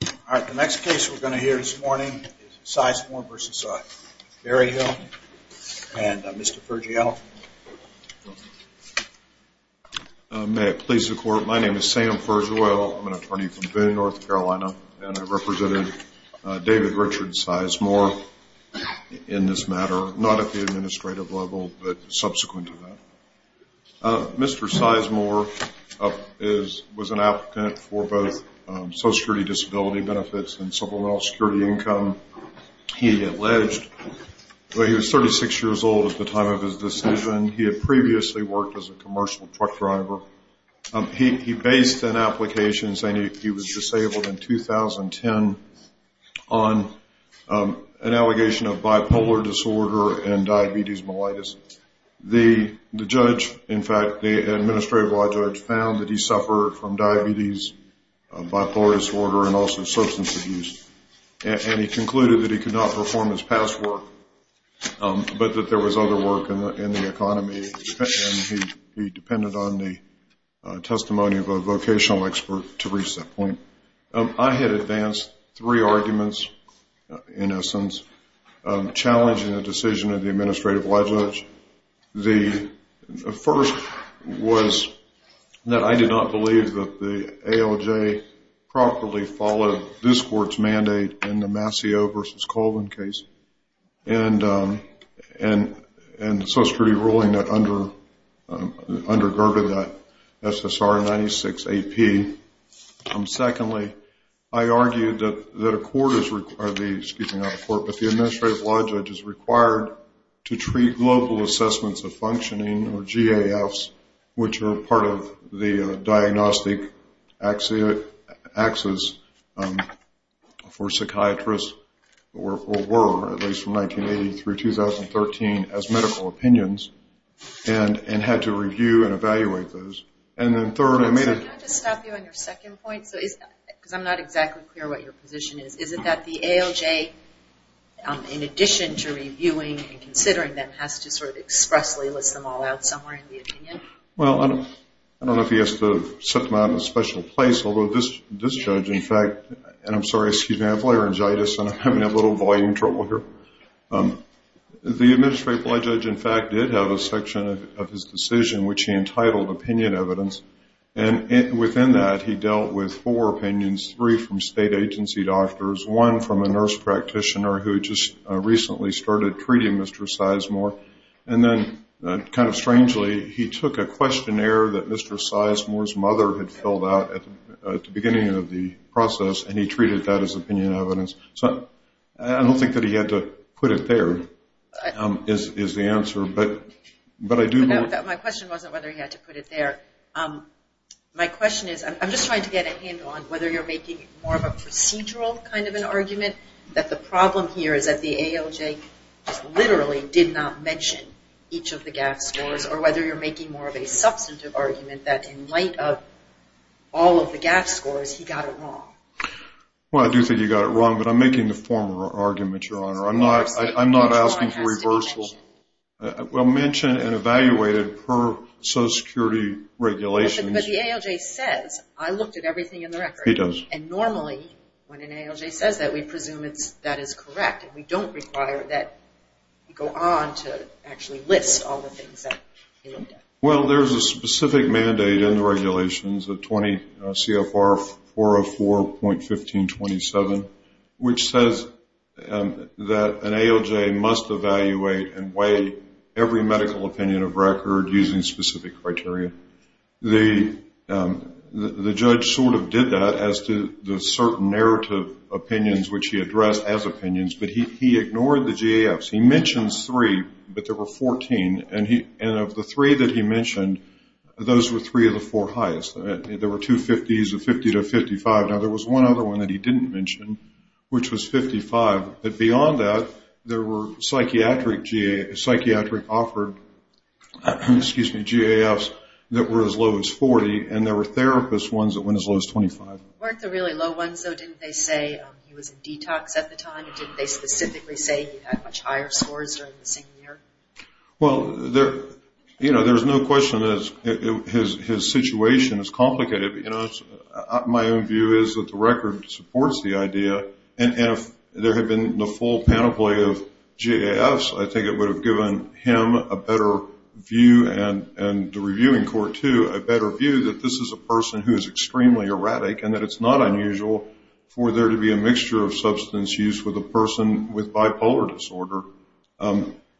All right, the next case we're going to hear this morning is Sizemore v. Berryhill, and Mr. Fergiello. May it please the Court, my name is Sam Fergiello. I'm an attorney from Boone, North Carolina, and I represented David Richard Sizemore in this matter, not at the administrative level, but subsequent to that. Mr. Sizemore was an applicant for both social security disability benefits and civil and health security income. He alleged that he was 36 years old at the time of his decision. He had previously worked as a commercial truck driver. He based an application saying he was disabled in 2010 on an allegation of bipolar disorder and diabetes mellitus. The judge, in fact, the administrative law judge, found that he suffered from diabetes, bipolar disorder, and also substance abuse. And he concluded that he could not perform his past work, but that there was other work in the economy, and he depended on the testimony of a vocational expert to reach that point. I had advanced three arguments, in essence, challenging the decision of the administrative law judge. The first was that I did not believe that the ALJ properly followed this Court's mandate in the Mascio v. Colvin case, and the social security ruling that undergirded that SSR 96AP. Secondly, I argued that a court is required, excuse me, not a court, but the administrative law judge is required to treat global assessments of functioning, or GAFs, which are part of the diagnostic access for psychiatrists, or were, at least from 1980 through 2013, as medical opinions, and had to review and evaluate those. Can I just stop you on your second point? Because I'm not exactly clear what your position is. Is it that the ALJ, in addition to reviewing and considering them, has to sort of expressly list them all out somewhere in the opinion? Well, I don't know if he has to set them out in a special place, although this judge, in fact, and I'm sorry, excuse me, I have laryngitis, and I'm having a little volume trouble here. The administrative law judge, in fact, did have a section of his decision which he entitled opinion evidence, and within that he dealt with four opinions, three from state agency doctors, one from a nurse practitioner who had just recently started treating Mr. Sizemore, and then kind of strangely, he took a questionnaire that Mr. Sizemore's mother had filled out at the beginning of the process and he treated that as opinion evidence. So I don't think that he had to put it there is the answer, but I do know... My question wasn't whether he had to put it there. My question is, I'm just trying to get a handle on whether you're making more of a procedural kind of an argument, that the problem here is that the ALJ literally did not mention each of the GAF scores, or whether you're making more of a substantive argument that in light of all of the GAF scores, he got it wrong. Well, I do think he got it wrong, but I'm making the formal argument, Your Honor. I'm not asking for reversal. Well, mention and evaluate it per Social Security regulations. But the ALJ says, I looked at everything in the record. It does. And normally, when an ALJ says that, we presume that is correct. We don't require that you go on to actually list all the things that you looked at. Well, there's a specific mandate in the regulations, CFR 404.1527, which says that an ALJ must evaluate and weigh every medical opinion of record using specific criteria. The judge sort of did that as to the certain narrative opinions, which he addressed as opinions, but he ignored the GAFs. He mentions three, but there were 14, and of the three that he mentioned, those were three of the four highest. There were two 50s, a 50 to a 55. Now, there was one other one that he didn't mention, which was 55. But beyond that, there were psychiatric offered GAFs that were as low as 40, and there were therapist ones that went as low as 25. Weren't the really low ones, though, didn't they say he was in detox at the time, or didn't they specifically say he had much higher scores during the same year? Well, you know, there's no question that his situation is complicated. You know, my own view is that the record supports the idea, and if there had been the full panoply of GAFs, I think it would have given him a better view, and the reviewing court, too, a better view that this is a person who is extremely erratic and that it's not unusual for there to be a mixture of substance use with a person with bipolar disorder.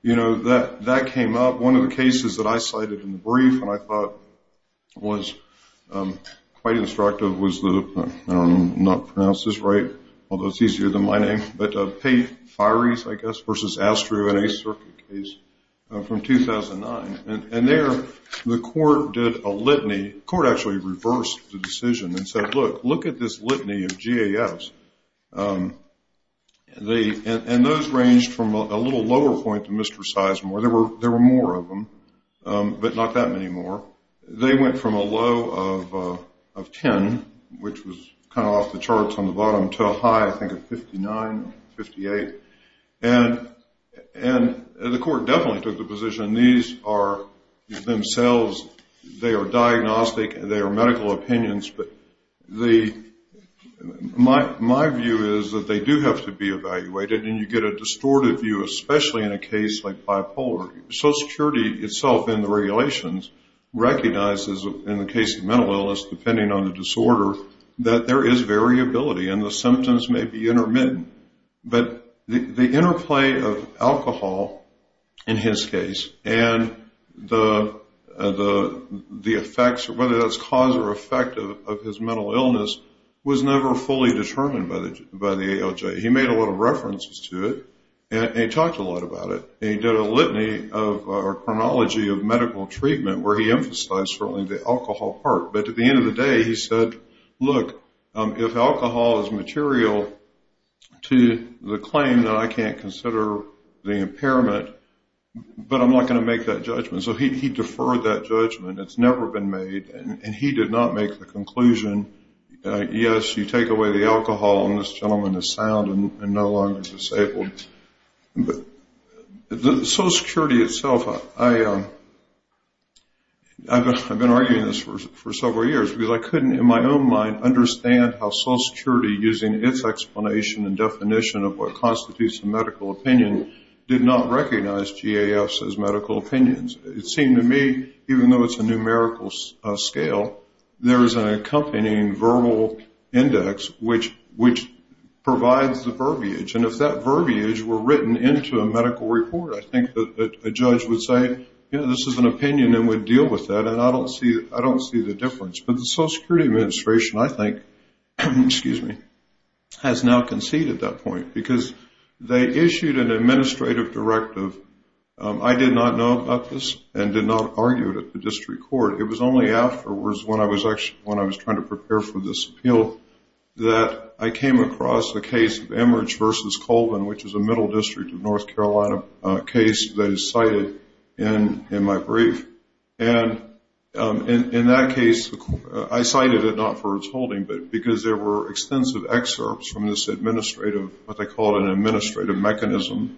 You know, that came up. One of the cases that I cited in the brief and I thought was quite instructive was the, I don't know if I pronounced this right, although it's easier than my name, but Pate-Fires, I guess, versus Astru in a circuit case from 2009. And there the court did a litany. The court actually reversed the decision and said, look, look at this litany of GAFs. And those ranged from a little lower point to Mr. Sizemore. There were more of them, but not that many more. They went from a low of 10, which was kind of off the charts on the bottom, to a high, I think, of 59, 58. And the court definitely took the position these are themselves, they are diagnostic, they are medical opinions, but my view is that they do have to be evaluated, and you get a distorted view, especially in a case like bipolar. Social Security itself in the regulations recognizes in the case of mental illness, depending on the disorder, that there is variability and the symptoms may be intermittent. But the interplay of alcohol, in his case, and the effects, whether that's cause or effect, of his mental illness was never fully determined by the ALJ. He made a lot of references to it, and he talked a lot about it, and he did a litany of chronology of medical treatment where he emphasized certainly the alcohol part. But at the end of the day, he said, look, if alcohol is material to the claim that I can't consider the impairment, but I'm not going to make that judgment. So he deferred that judgment, it's never been made, and he did not make the conclusion, yes, you take away the alcohol and this gentleman is sound and no longer disabled. But Social Security itself, I've been arguing this for several years, because I couldn't in my own mind understand how Social Security, using its explanation and definition of what constitutes a medical opinion, did not recognize GAFs as medical opinions. It seemed to me, even though it's a numerical scale, there is an accompanying verbal index, which provides the verbiage, and if that verbiage were written into a medical report, I think that a judge would say, you know, this is an opinion and would deal with that, and I don't see the difference. But the Social Security Administration, I think, has now conceded that point, because they issued an administrative directive. I did not know about this and did not argue it at the district court. It was only afterwards, when I was trying to prepare for this appeal, that I came across the case of Emmerich v. Colvin, which is a Middle District of North Carolina case that is cited in my brief. And in that case, I cited it not for its holding, but because there were extensive excerpts from this administrative, what they call an administrative mechanism,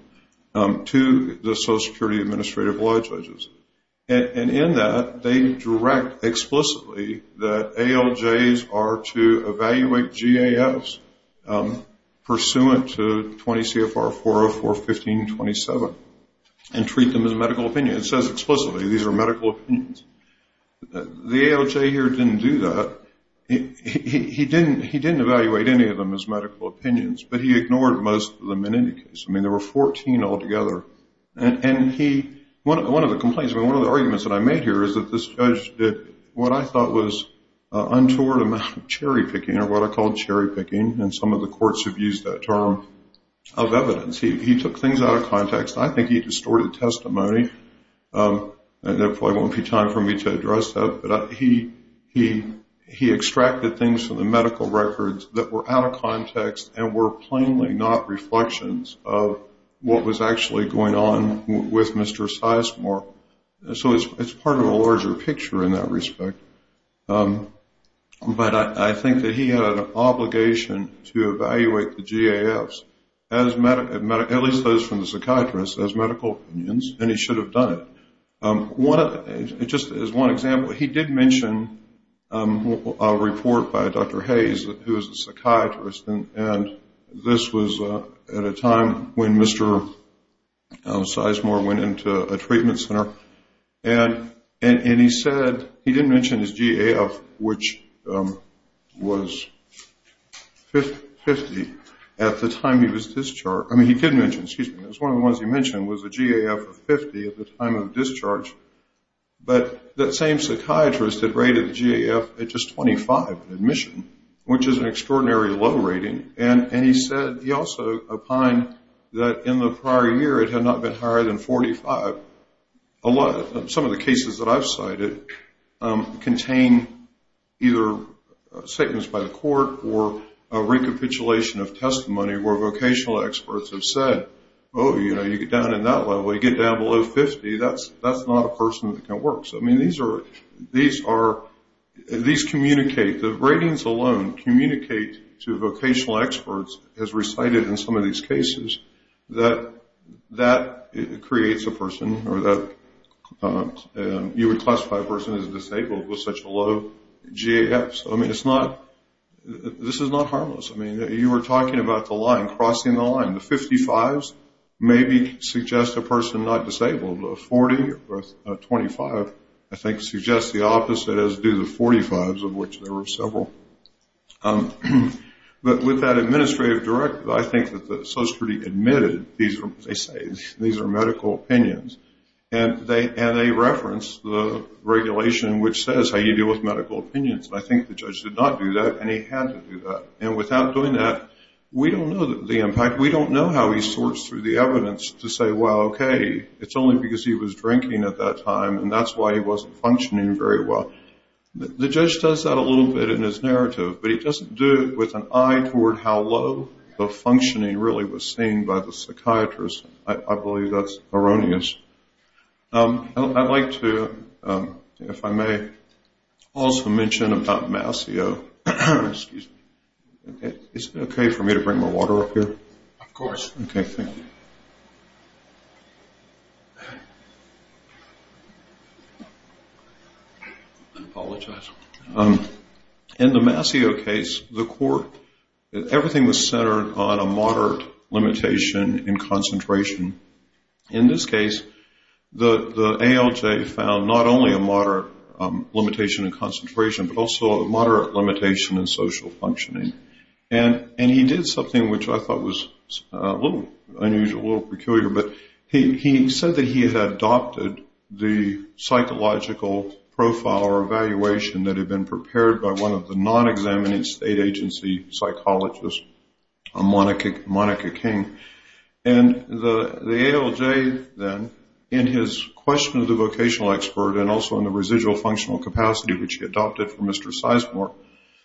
to the Social Security Administrative Law Judges. And in that, they direct explicitly that ALJs are to evaluate GAFs pursuant to 20 CFR 404-1527 and treat them as a medical opinion. It says explicitly these are medical opinions. The ALJ here didn't do that. He didn't evaluate any of them as medical opinions, but he ignored most of them in any case. I mean, there were 14 altogether. And one of the complaints, one of the arguments that I made here, is that this judge did what I thought was untoward amount of cherry-picking, or what I call cherry-picking, and some of the courts have used that term, of evidence. He took things out of context. I think he distorted testimony. There probably won't be time for me to address that, and were plainly not reflections of what was actually going on with Mr. Sizemore. So it's part of a larger picture in that respect. But I think that he had an obligation to evaluate the GAFs, at least those from the psychiatrists, as medical opinions, and he should have done it. Just as one example, he did mention a report by Dr. Hayes, who is a psychiatrist, and this was at a time when Mr. Sizemore went into a treatment center, and he said he didn't mention his GAF, which was 50 at the time he was discharged. One of the ones he mentioned was a GAF of 50 at the time of discharge, but that same psychiatrist had rated the GAF at just 25 in admission, which is an extraordinary low rating, and he also opined that in the prior year it had not been higher than 45. Some of the cases that I've cited contain either statements by the court or a recapitulation of testimony where vocational experts have said, oh, you know, you get down in that level, you get down below 50, that's not a person that can work. So, I mean, these communicate. The ratings alone communicate to vocational experts, as recited in some of these cases, that that creates a person or that you would classify a person as disabled with such a low GAF. So, I mean, this is not harmless. I mean, you were talking about the line, crossing the line. The 55s maybe suggest a person not disabled. A 40 or a 25, I think, suggests the opposite, as do the 45s, of which there were several. But with that administrative directive, I think that the social security admitted, they say these are medical opinions, and they reference the regulation which says how you deal with medical opinions. And I think the judge did not do that, and he had to do that. And without doing that, we don't know the impact. We don't know how he sorts through the evidence to say, well, okay, it's only because he was drinking at that time, and that's why he wasn't functioning very well. The judge does that a little bit in his narrative, but he doesn't do it with an eye toward how low the functioning really was seen by the psychiatrist. I believe that's erroneous. I'd like to, if I may, also mention about Masseau. Excuse me. Is it okay for me to bring my water up here? Of course. Okay, thank you. I apologize. In the Masseau case, the court, everything was centered on a moderate limitation in concentration. In this case, the ALJ found not only a moderate limitation in concentration but also a moderate limitation in social functioning. And he did something which I thought was a little unusual, a little peculiar, but he said that he had adopted the psychological profile or evaluation that had been prepared by one of the non-examining state agency psychologists, Monica King. And the ALJ then, in his question of the vocational expert and also in the residual functional capacity which he adopted for Mr. Sizemore,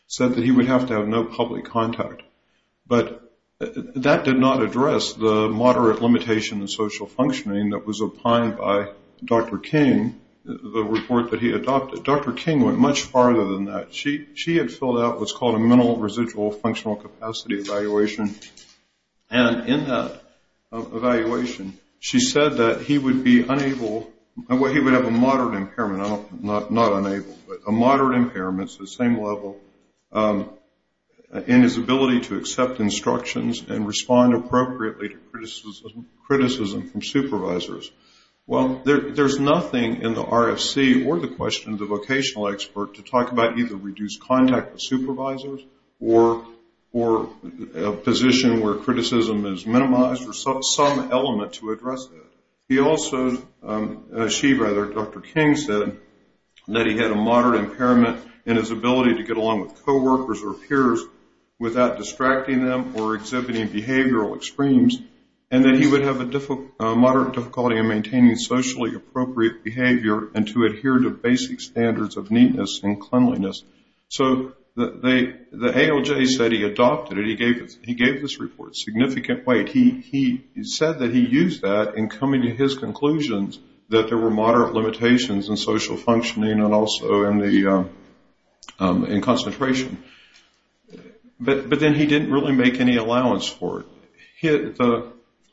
said that he would have to have no public contact. But that did not address the moderate limitation in social functioning that was opined by Dr. King, the report that he adopted. Dr. King went much farther than that. She had filled out what's called a mental residual functional capacity evaluation, and in that evaluation, she said that he would be unable, well, he would have a moderate impairment, not unable, but a moderate impairment to the same level in his ability to accept instructions and respond appropriately to criticism from supervisors. Well, there's nothing in the RFC or the question of the vocational expert to talk about either reduced contact with supervisors or a position where criticism is minimized or some element to address that. He also, she rather, Dr. King said that he had a moderate impairment in his ability to get along with coworkers or peers without distracting them or exhibiting behavioral extremes, and that he would have a moderate difficulty in maintaining socially appropriate behavior and to adhere to basic standards of neatness and cleanliness. So the ALJ said he adopted it. He gave this report significant weight. He said that he used that in coming to his conclusions that there were moderate limitations in social functioning and also in concentration. But then he didn't really make any allowance for it.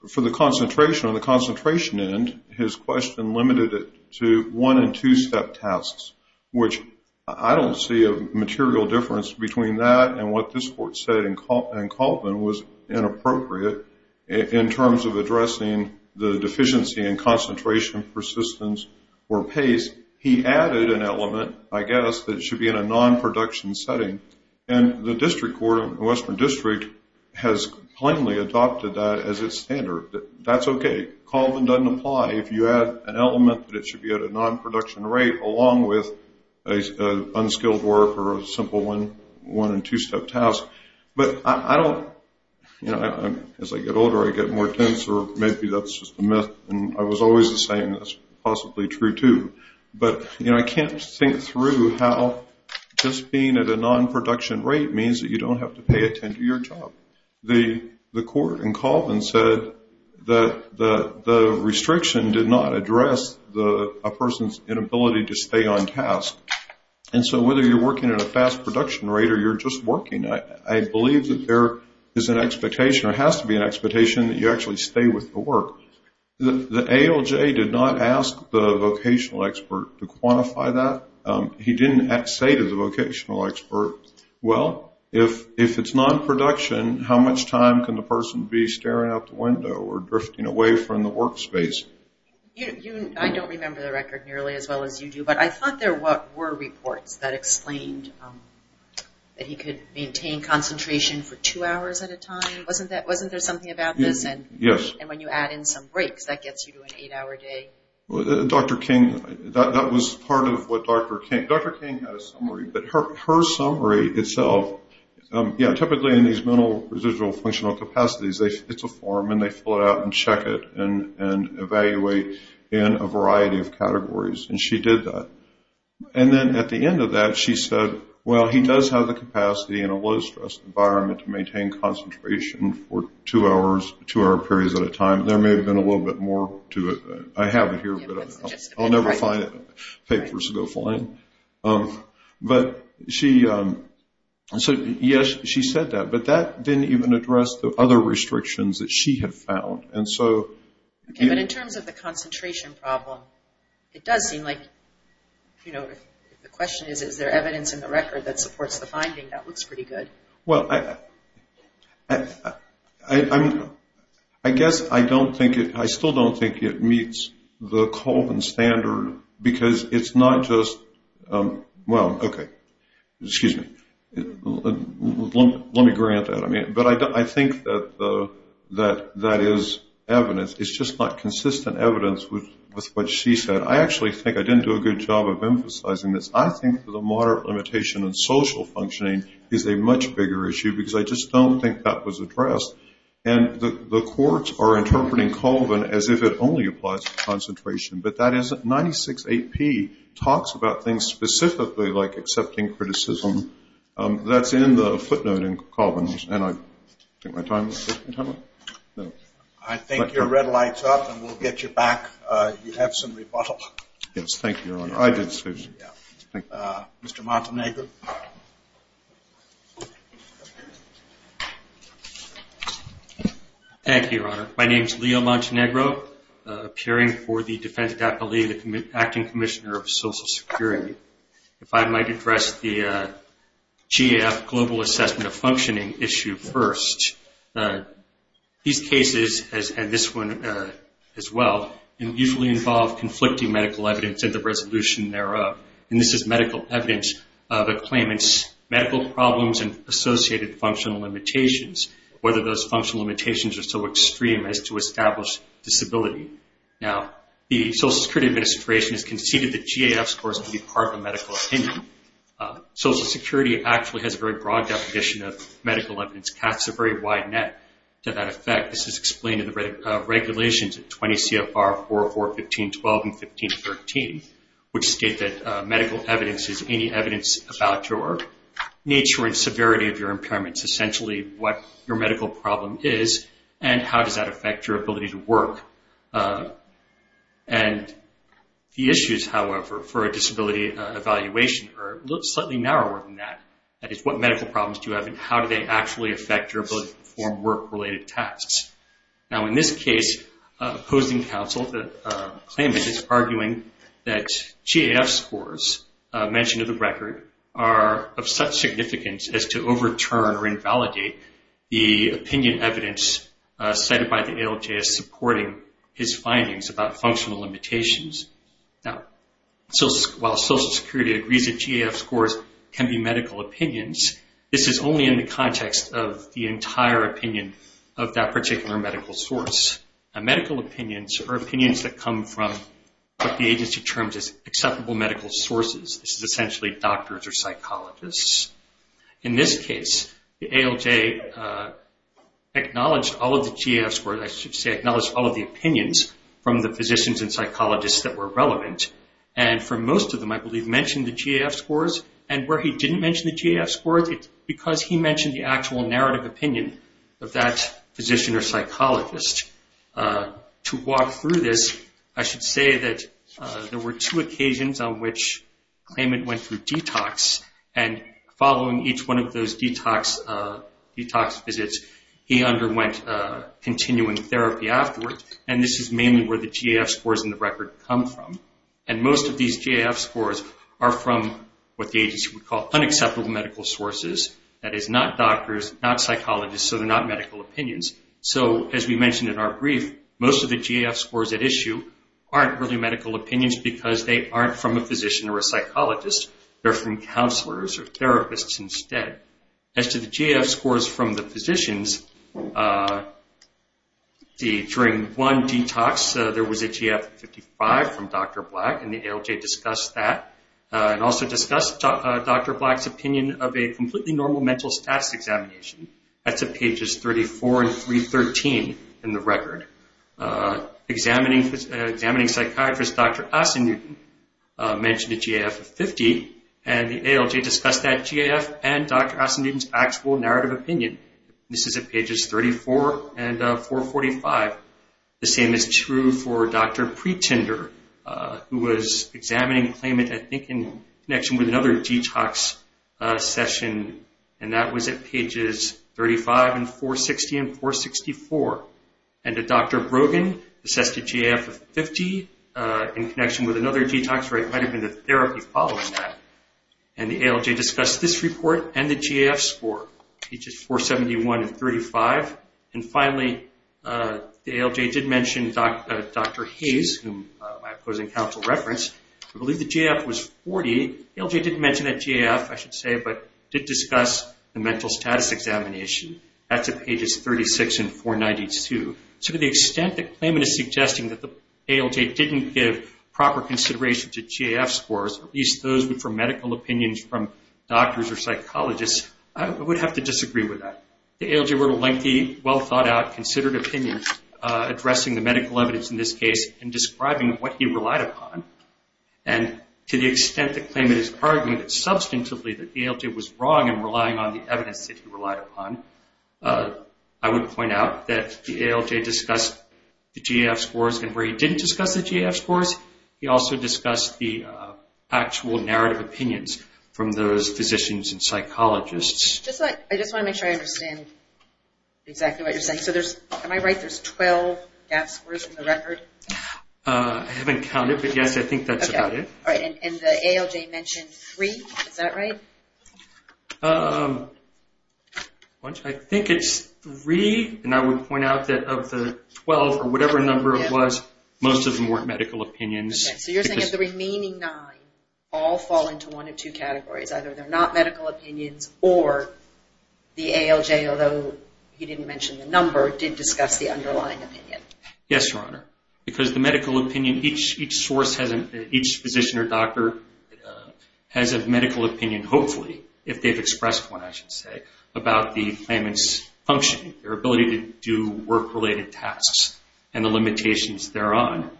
For the concentration, on the concentration end, his question limited it to one- and two-step tasks, which I don't see a material difference between that and what this court said in Colvin was inappropriate in terms of addressing the deficiency in concentration, persistence, or pace. He added an element, I guess, that should be in a non-production setting. And the district court in the Western District has plainly adopted that as its standard. That's okay. Colvin doesn't apply. If you add an element that it should be at a non-production rate along with unskilled work or a simple one- and two-step task. But I don't, you know, as I get older, I get more tense, or maybe that's just a myth. And I was always the same. That's possibly true, too. But, you know, I can't think through how just being at a non-production rate means that you don't have to pay attention to your job. The court in Colvin said that the restriction did not address a person's inability to stay on task. And so whether you're working at a fast production rate or you're just working, I believe that there is an expectation or has to be an expectation that you actually stay with the work. The ALJ did not ask the vocational expert to quantify that. He didn't say to the vocational expert, well, if it's non-production, how much time can the person be staring out the window or drifting away from the work space? I don't remember the record nearly as well as you do, but I thought there were reports that explained that he could maintain concentration for two hours at a time. Wasn't there something about this? Yes. And when you add in some breaks, that gets you to an eight-hour day. Dr. King, that was part of what Dr. King, Dr. King had a summary, but her summary itself, yeah, typically in these mental residual functional capacities, it's a form and they fill it out and check it and evaluate in a variety of categories. And she did that. And then at the end of that, she said, well, he does have the capacity in a low-stress environment to maintain concentration for two-hour periods at a time. There may have been a little bit more to it. I have it here, but I'll never find it. Papers go flying. But she said that, but that didn't even address the other restrictions that she had found. Okay, but in terms of the concentration problem, it does seem like, you know, the question is, is there evidence in the record that supports the finding? That looks pretty good. Well, I guess I don't think it, I still don't think it meets the Colvin standard because it's not just, well, okay, excuse me, let me grant that. But I think that that is evidence. It's just not consistent evidence with what she said. I actually think I didn't do a good job of emphasizing this. I think the moderate limitation in social functioning is a much bigger issue because I just don't think that was addressed. And the courts are interpreting Colvin as if it only applies to concentration, but that isn't. 96 AP talks about things specifically like accepting criticism. That's in the footnote in Colvin's, and I think my time is up. I think your red light's up, and we'll get you back. You have some rebuttal. Yes, thank you, Your Honor. I did, excuse me. Mr. Montenegro. Thank you, Your Honor. My name is Leo Montenegro, appearing for the defense deputy acting commissioner of Social Security. If I might address the GAF global assessment of functioning issue first. These cases, and this one as well, usually involve conflicting medical evidence and the resolution thereof. And this is medical evidence that claim it's medical problems and associated functional limitations, whether those functional limitations are so extreme as to establish disability. Now, the Social Security Administration has conceded that GAF scores can be part of a medical opinion. Social Security actually has a very broad definition of medical evidence. GAF's a very wide net to that effect. This is explained in the regulations at 20 CFR 4.4.15.12 and 15.13, which state that medical evidence is any evidence about your nature and severity of your impairments, essentially what your medical problem is and how does that affect your ability to work. And the issues, however, for a disability evaluation are slightly narrower than that. That is, what medical problems do you have and how do they actually affect your ability to perform work-related tasks. Now, in this case, opposing counsel, the claimant is arguing that GAF scores mentioned in the record are of such significance as to overturn or invalidate the opinion evidence cited by the ALJ as supporting his findings about functional limitations. Now, while Social Security agrees that GAF scores can be medical opinions, this is only in the context of the entire opinion of that particular medical source. Now, medical opinions are opinions that come from what the agency terms as acceptable medical sources. This is essentially doctors or psychologists. In this case, the ALJ acknowledged all of the GAF scores, I should say acknowledged all of the opinions from the physicians and psychologists that were relevant and for most of them, I believe, mentioned the GAF scores. And where he didn't mention the GAF scores, it's because he mentioned the actual narrative opinion of that physician or psychologist. To walk through this, I should say that there were two occasions on which claimant went through detox and following each one of those detox visits, he underwent continuing therapy afterwards. And this is mainly where the GAF scores in the record come from. And most of these GAF scores are from what the agency would call unacceptable medical sources. That is not doctors, not psychologists, so they're not medical opinions. So, as we mentioned in our brief, most of the GAF scores at issue aren't really medical opinions because they aren't from a physician or a psychologist. They're from counselors or therapists instead. As to the GAF scores from the physicians, during one detox, there was a GAF of 55 from Dr. Black and the ALJ discussed that and also discussed Dr. Black's opinion of a completely normal mental status examination. That's at pages 34 and 313 in the record. Examining psychiatrist Dr. Asin-Newton mentioned a GAF of 50 and the ALJ discussed that GAF and Dr. Asin-Newton's actual narrative opinion. This is at pages 34 and 445. The same is true for Dr. Pretender, who was examining claimant, I think in connection with another detox session, and that was at pages 35 and 460 and 464. And Dr. Brogan assessed a GAF of 50 in connection with another detox where it might have been a therapy following that. And the ALJ discussed this report and the GAF score, pages 471 and 35. And finally, the ALJ did mention Dr. Hayes, whom my opposing counsel referenced, who believed the GAF was 40. The ALJ didn't mention that GAF, I should say, but did discuss the mental status examination. That's at pages 36 and 492. So to the extent that claimant is suggesting that the ALJ didn't give proper consideration to GAF scores, at least those were medical opinions from doctors or psychologists, I would have to disagree with that. The ALJ wrote a lengthy, well-thought-out, considered opinion addressing the medical evidence in this case and describing what he relied upon. And to the extent that claimant has argued substantively that the ALJ was wrong in relying on the evidence that he relied upon, I would point out that the ALJ discussed the GAF scores, and where he didn't discuss the GAF scores, he also discussed the actual narrative opinions from those physicians and psychologists. I just want to make sure I understand exactly what you're saying. So am I right, there's 12 GAF scores in the record? I haven't counted, but yes, I think that's about it. And the ALJ mentioned three, is that right? I think it's three, and I would point out that of the 12 or whatever number it was, most of them weren't medical opinions. So you're saying that the remaining nine all fall into one of two categories, either they're not medical opinions or the ALJ, although he didn't mention the number, did discuss the underlying opinion. Yes, Your Honor. Because the medical opinion, each source, each physician or doctor has a medical opinion, hopefully, if they've expressed one, I should say, about the claimant's functioning, their ability to do work-related tasks and the limitations thereon.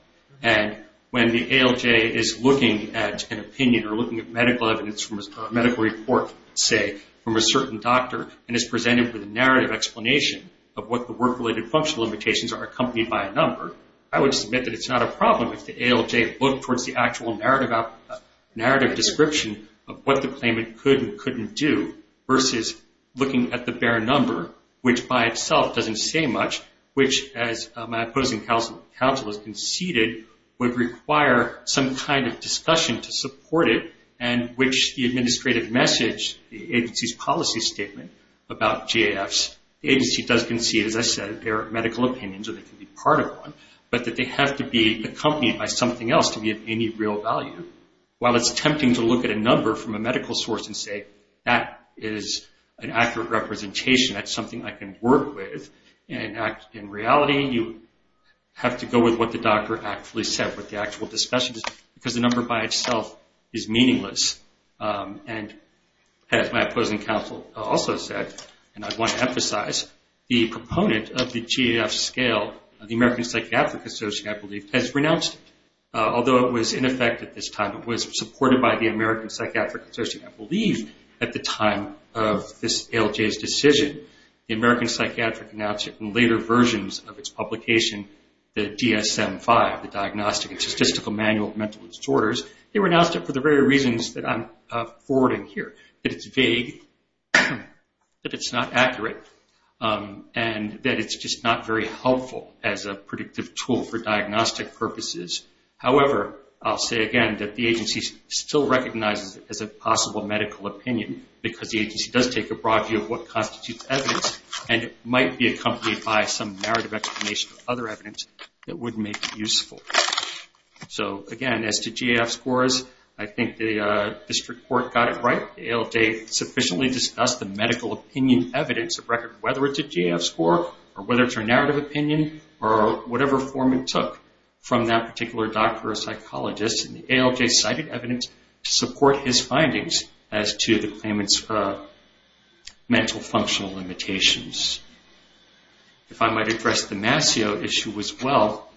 And when the ALJ is looking at an opinion or looking at medical evidence from a medical report, say, from a certain doctor and is presented with a narrative explanation of what the work-related functional limitations are accompanied by a number, I would submit that it's not a problem if the ALJ looked towards the actual narrative description of what the claimant could and couldn't do versus looking at the bare number, which by itself doesn't say much, which, as my opposing counsel has conceded, would require some kind of discussion to support it and which the administrative message, the agency's policy statement about GAFs, the agency does concede, as I said, they're medical opinions or they can be part of one, but that they have to be accompanied by something else to be of any real value. While it's tempting to look at a number from a medical source and say, that is an accurate representation, that's something I can work with, in reality, you have to go with what the doctor actually said, what the actual discussion is, because the number by itself is meaningless and, as my opposing counsel also said, and I want to emphasize, the proponent of the GAF scale, the American Psychiatric Association, I believe, has renounced it. Although it was in effect at this time, it was supported by the American Psychiatric Association, I believe, at the time of this ALJ's decision. The American Psychiatric announced it in later versions of its publication, the GSM-5, the Diagnostic and Statistical Manual of Mental Disorders. They renounced it for the very reasons that I'm forwarding here, that it's vague, that it's not accurate, and that it's just not very helpful as a predictive tool for diagnostic purposes. However, I'll say again that the agency still recognizes it as a possible medical opinion, because the agency does take a broad view of what constitutes evidence and it might be accompanied by some narrative explanation of other evidence that would make it useful. So, again, as to GAF scores, I think the district court got it right. The ALJ sufficiently discussed the medical opinion evidence of record, whether it's a GAF score or whether it's a narrative opinion or whatever form it took from that particular doctor or psychologist. And the ALJ cited evidence to support his findings as to the claimant's mental functional limitations. If I might address the Masseau issue as well,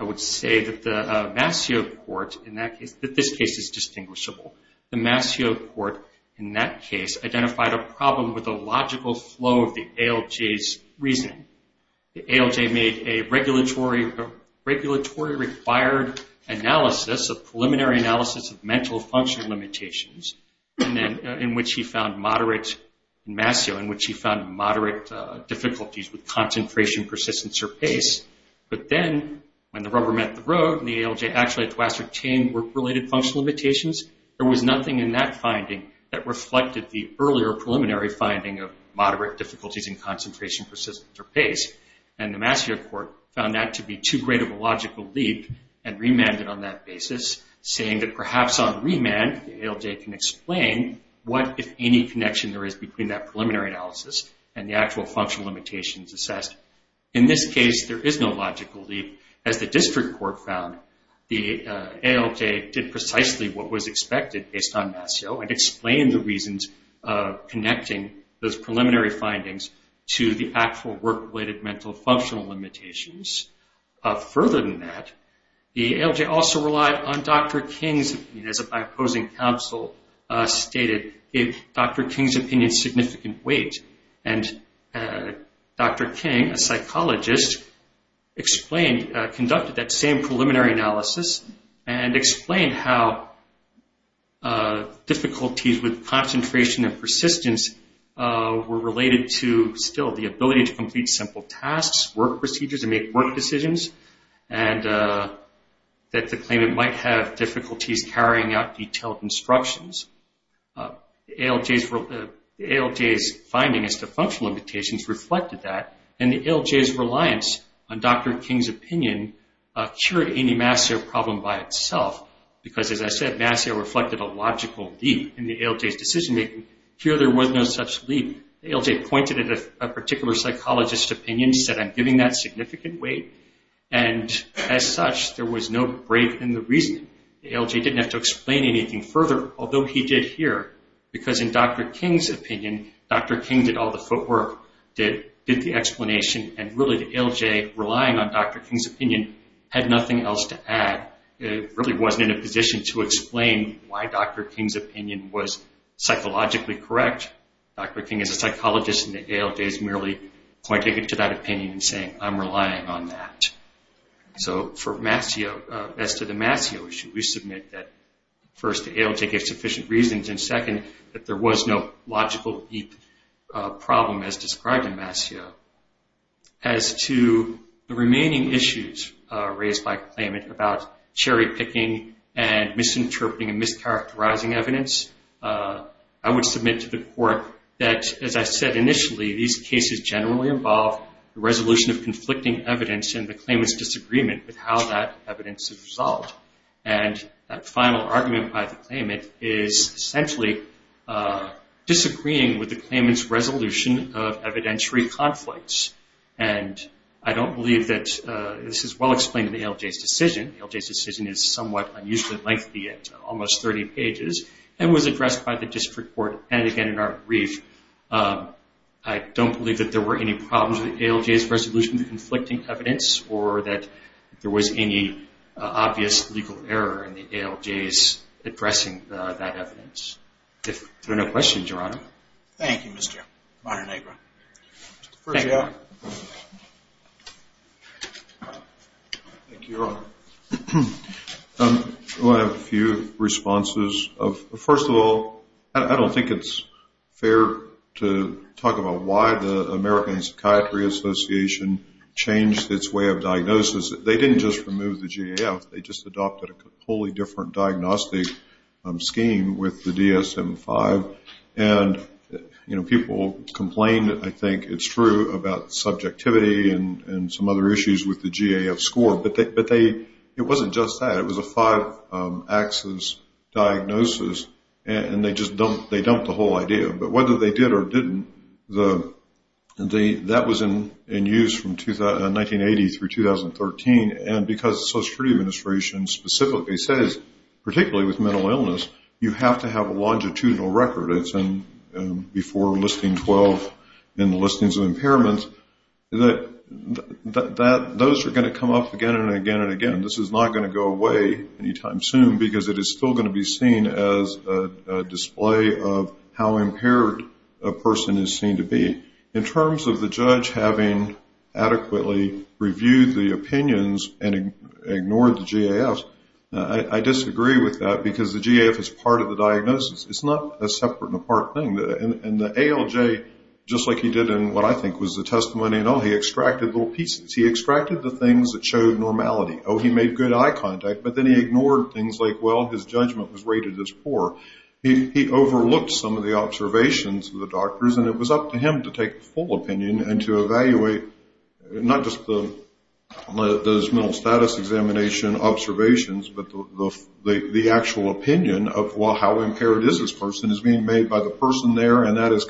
I would say that the Masseau court in that case, that this case is distinguishable. The Masseau court in that case identified a problem with the logical flow of the ALJ's reasoning. The ALJ made a regulatory-required analysis, a preliminary analysis of mental functional limitations, in which he found moderate difficulties with concentration, persistence, or pace. But then when the rubber met the road and the ALJ actually had to ascertain work-related functional limitations, there was nothing in that finding that reflected the earlier preliminary finding of moderate difficulties in concentration, persistence, or pace. And the Masseau court found that to be too great of a logical leap and remanded on that basis, saying that perhaps on remand the ALJ can explain what, if any, connection there is between that preliminary analysis and the actual functional limitations assessed. In this case, there is no logical leap. As the district court found, the ALJ did precisely what was expected based on Masseau and explained the reasons connecting those preliminary findings to the actual work-related mental functional limitations. Further than that, the ALJ also relied on Dr. King's opinion, as my opposing counsel stated, gave Dr. King's opinion significant weight. And Dr. King, a psychologist, explained, conducted that same preliminary analysis and explained how difficulties with concentration and persistence were related to, still, the ability to complete simple tasks, work procedures, and make work decisions, and that the claimant might have difficulties carrying out detailed instructions. The ALJ's finding as to functional limitations reflected that, and the ALJ's reliance on Dr. King's opinion cured any Masseau problem by itself, because, as I said, Masseau reflected a logical leap in the ALJ's decision-making. Here there was no such leap. The ALJ pointed at a particular psychologist's opinion, said, I'm giving that significant weight, and as such there was no break in the reasoning. The ALJ didn't have to explain anything further, although he did here, because in Dr. King's opinion, Dr. King did all the footwork, did the explanation, and really the ALJ, relying on Dr. King's opinion, had nothing else to add. It really wasn't in a position to explain why Dr. King's opinion was psychologically correct. Dr. King, as a psychologist in the ALJ, is merely pointing to that opinion and saying, I'm relying on that. So, as to the Masseau issue, we submit that, first, the ALJ gave sufficient reasons, and, second, that there was no logical leap problem as described in Masseau. As to the remaining issues raised by the claimant about cherry-picking and misinterpreting and mischaracterizing evidence, I would submit to the court that, as I said initially, these cases generally involve the resolution of conflicting evidence and the claimant's disagreement with how that evidence is resolved. And that final argument by the claimant is, essentially, disagreeing with the claimant's resolution of evidentiary conflicts. And I don't believe that this is well explained in the ALJ's decision. The ALJ's decision is somewhat unusually lengthy at almost 30 pages and was addressed by the district court and, again, in our brief. I don't believe that there were any problems with the ALJ's resolution of the conflicting evidence or that there was any obvious legal error in the ALJ's addressing that evidence. If there are no questions, Your Honor. Thank you, Mr. Montenegro. Thank you, Your Honor. I have a few responses. First of all, I don't think it's fair to talk about why the American Psychiatry Association changed its way of diagnosis. They didn't just remove the GAF. They just adopted a wholly different diagnostic scheme with the DSM-5. And, you know, people complained, I think it's true, about subjectivity and some other issues with the GAF score. But it wasn't just that. It was a five-axis diagnosis, and they just dumped the whole idea. But whether they did or didn't, that was in use from 1980 through 2013, and because the Social Security Administration specifically says, particularly with mental illness, you have to have a longitudinal record. It's before listing 12 in the listings of impairments. Those are going to come up again and again and again. This is not going to go away any time soon because it is still going to be seen as a display of how impaired a person is seen to be. In terms of the judge having adequately reviewed the opinions and ignored the GAF, I disagree with that because the GAF is part of the diagnosis. It's not a separate and apart thing. And the ALJ, just like he did in what I think was the testimony and all, he extracted little pieces. He extracted the things that showed normality. Oh, he made good eye contact, but then he ignored things like, well, his judgment was rated as poor. He overlooked some of the observations of the doctors, and it was up to him to take the full opinion and to evaluate not just the mental status examination observations, but the actual opinion of, well, how impaired is this person is being made by the person there, and that is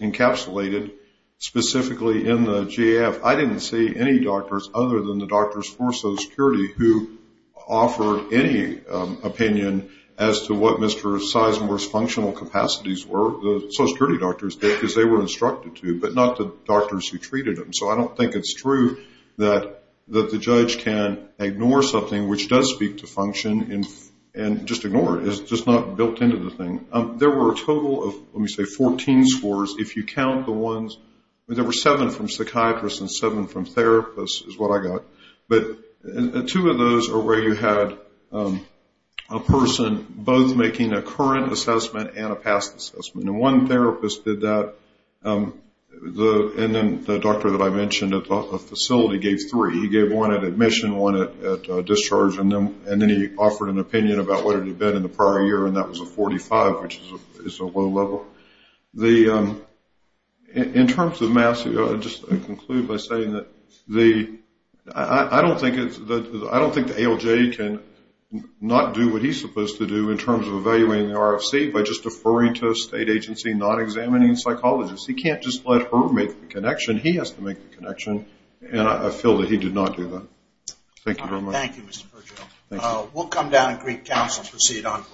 encapsulated specifically in the GAF. I didn't see any doctors other than the doctors for Social Security who offered any opinion as to what Mr. Sizemore's functional capacities were. The Social Security doctors did because they were instructed to, but not the doctors who treated him. So I don't think it's true that the judge can ignore something which does speak to function and just ignore it. It's just not built into the thing. There were a total of, let me say, 14 scores if you count the ones. There were seven from psychiatrists and seven from therapists is what I got. But two of those are where you had a person both making a current assessment and a past assessment. And one therapist did that, and then the doctor that I mentioned at the facility gave three. He gave one at admission, one at discharge, and then he offered an opinion about what it had been in the prior year, and that was a 45, which is a low level. In terms of Massey, I'll just conclude by saying that I don't think the ALJ can not do what he's supposed to do in terms of evaluating the RFC by just deferring to a state agency, not examining psychologists. He can't just let her make the connection. He has to make the connection, and I feel that he did not do that. Thank you very much. Thank you, Mr. Virgil. Thank you. We'll come down and greet counsel and proceed on to the last case.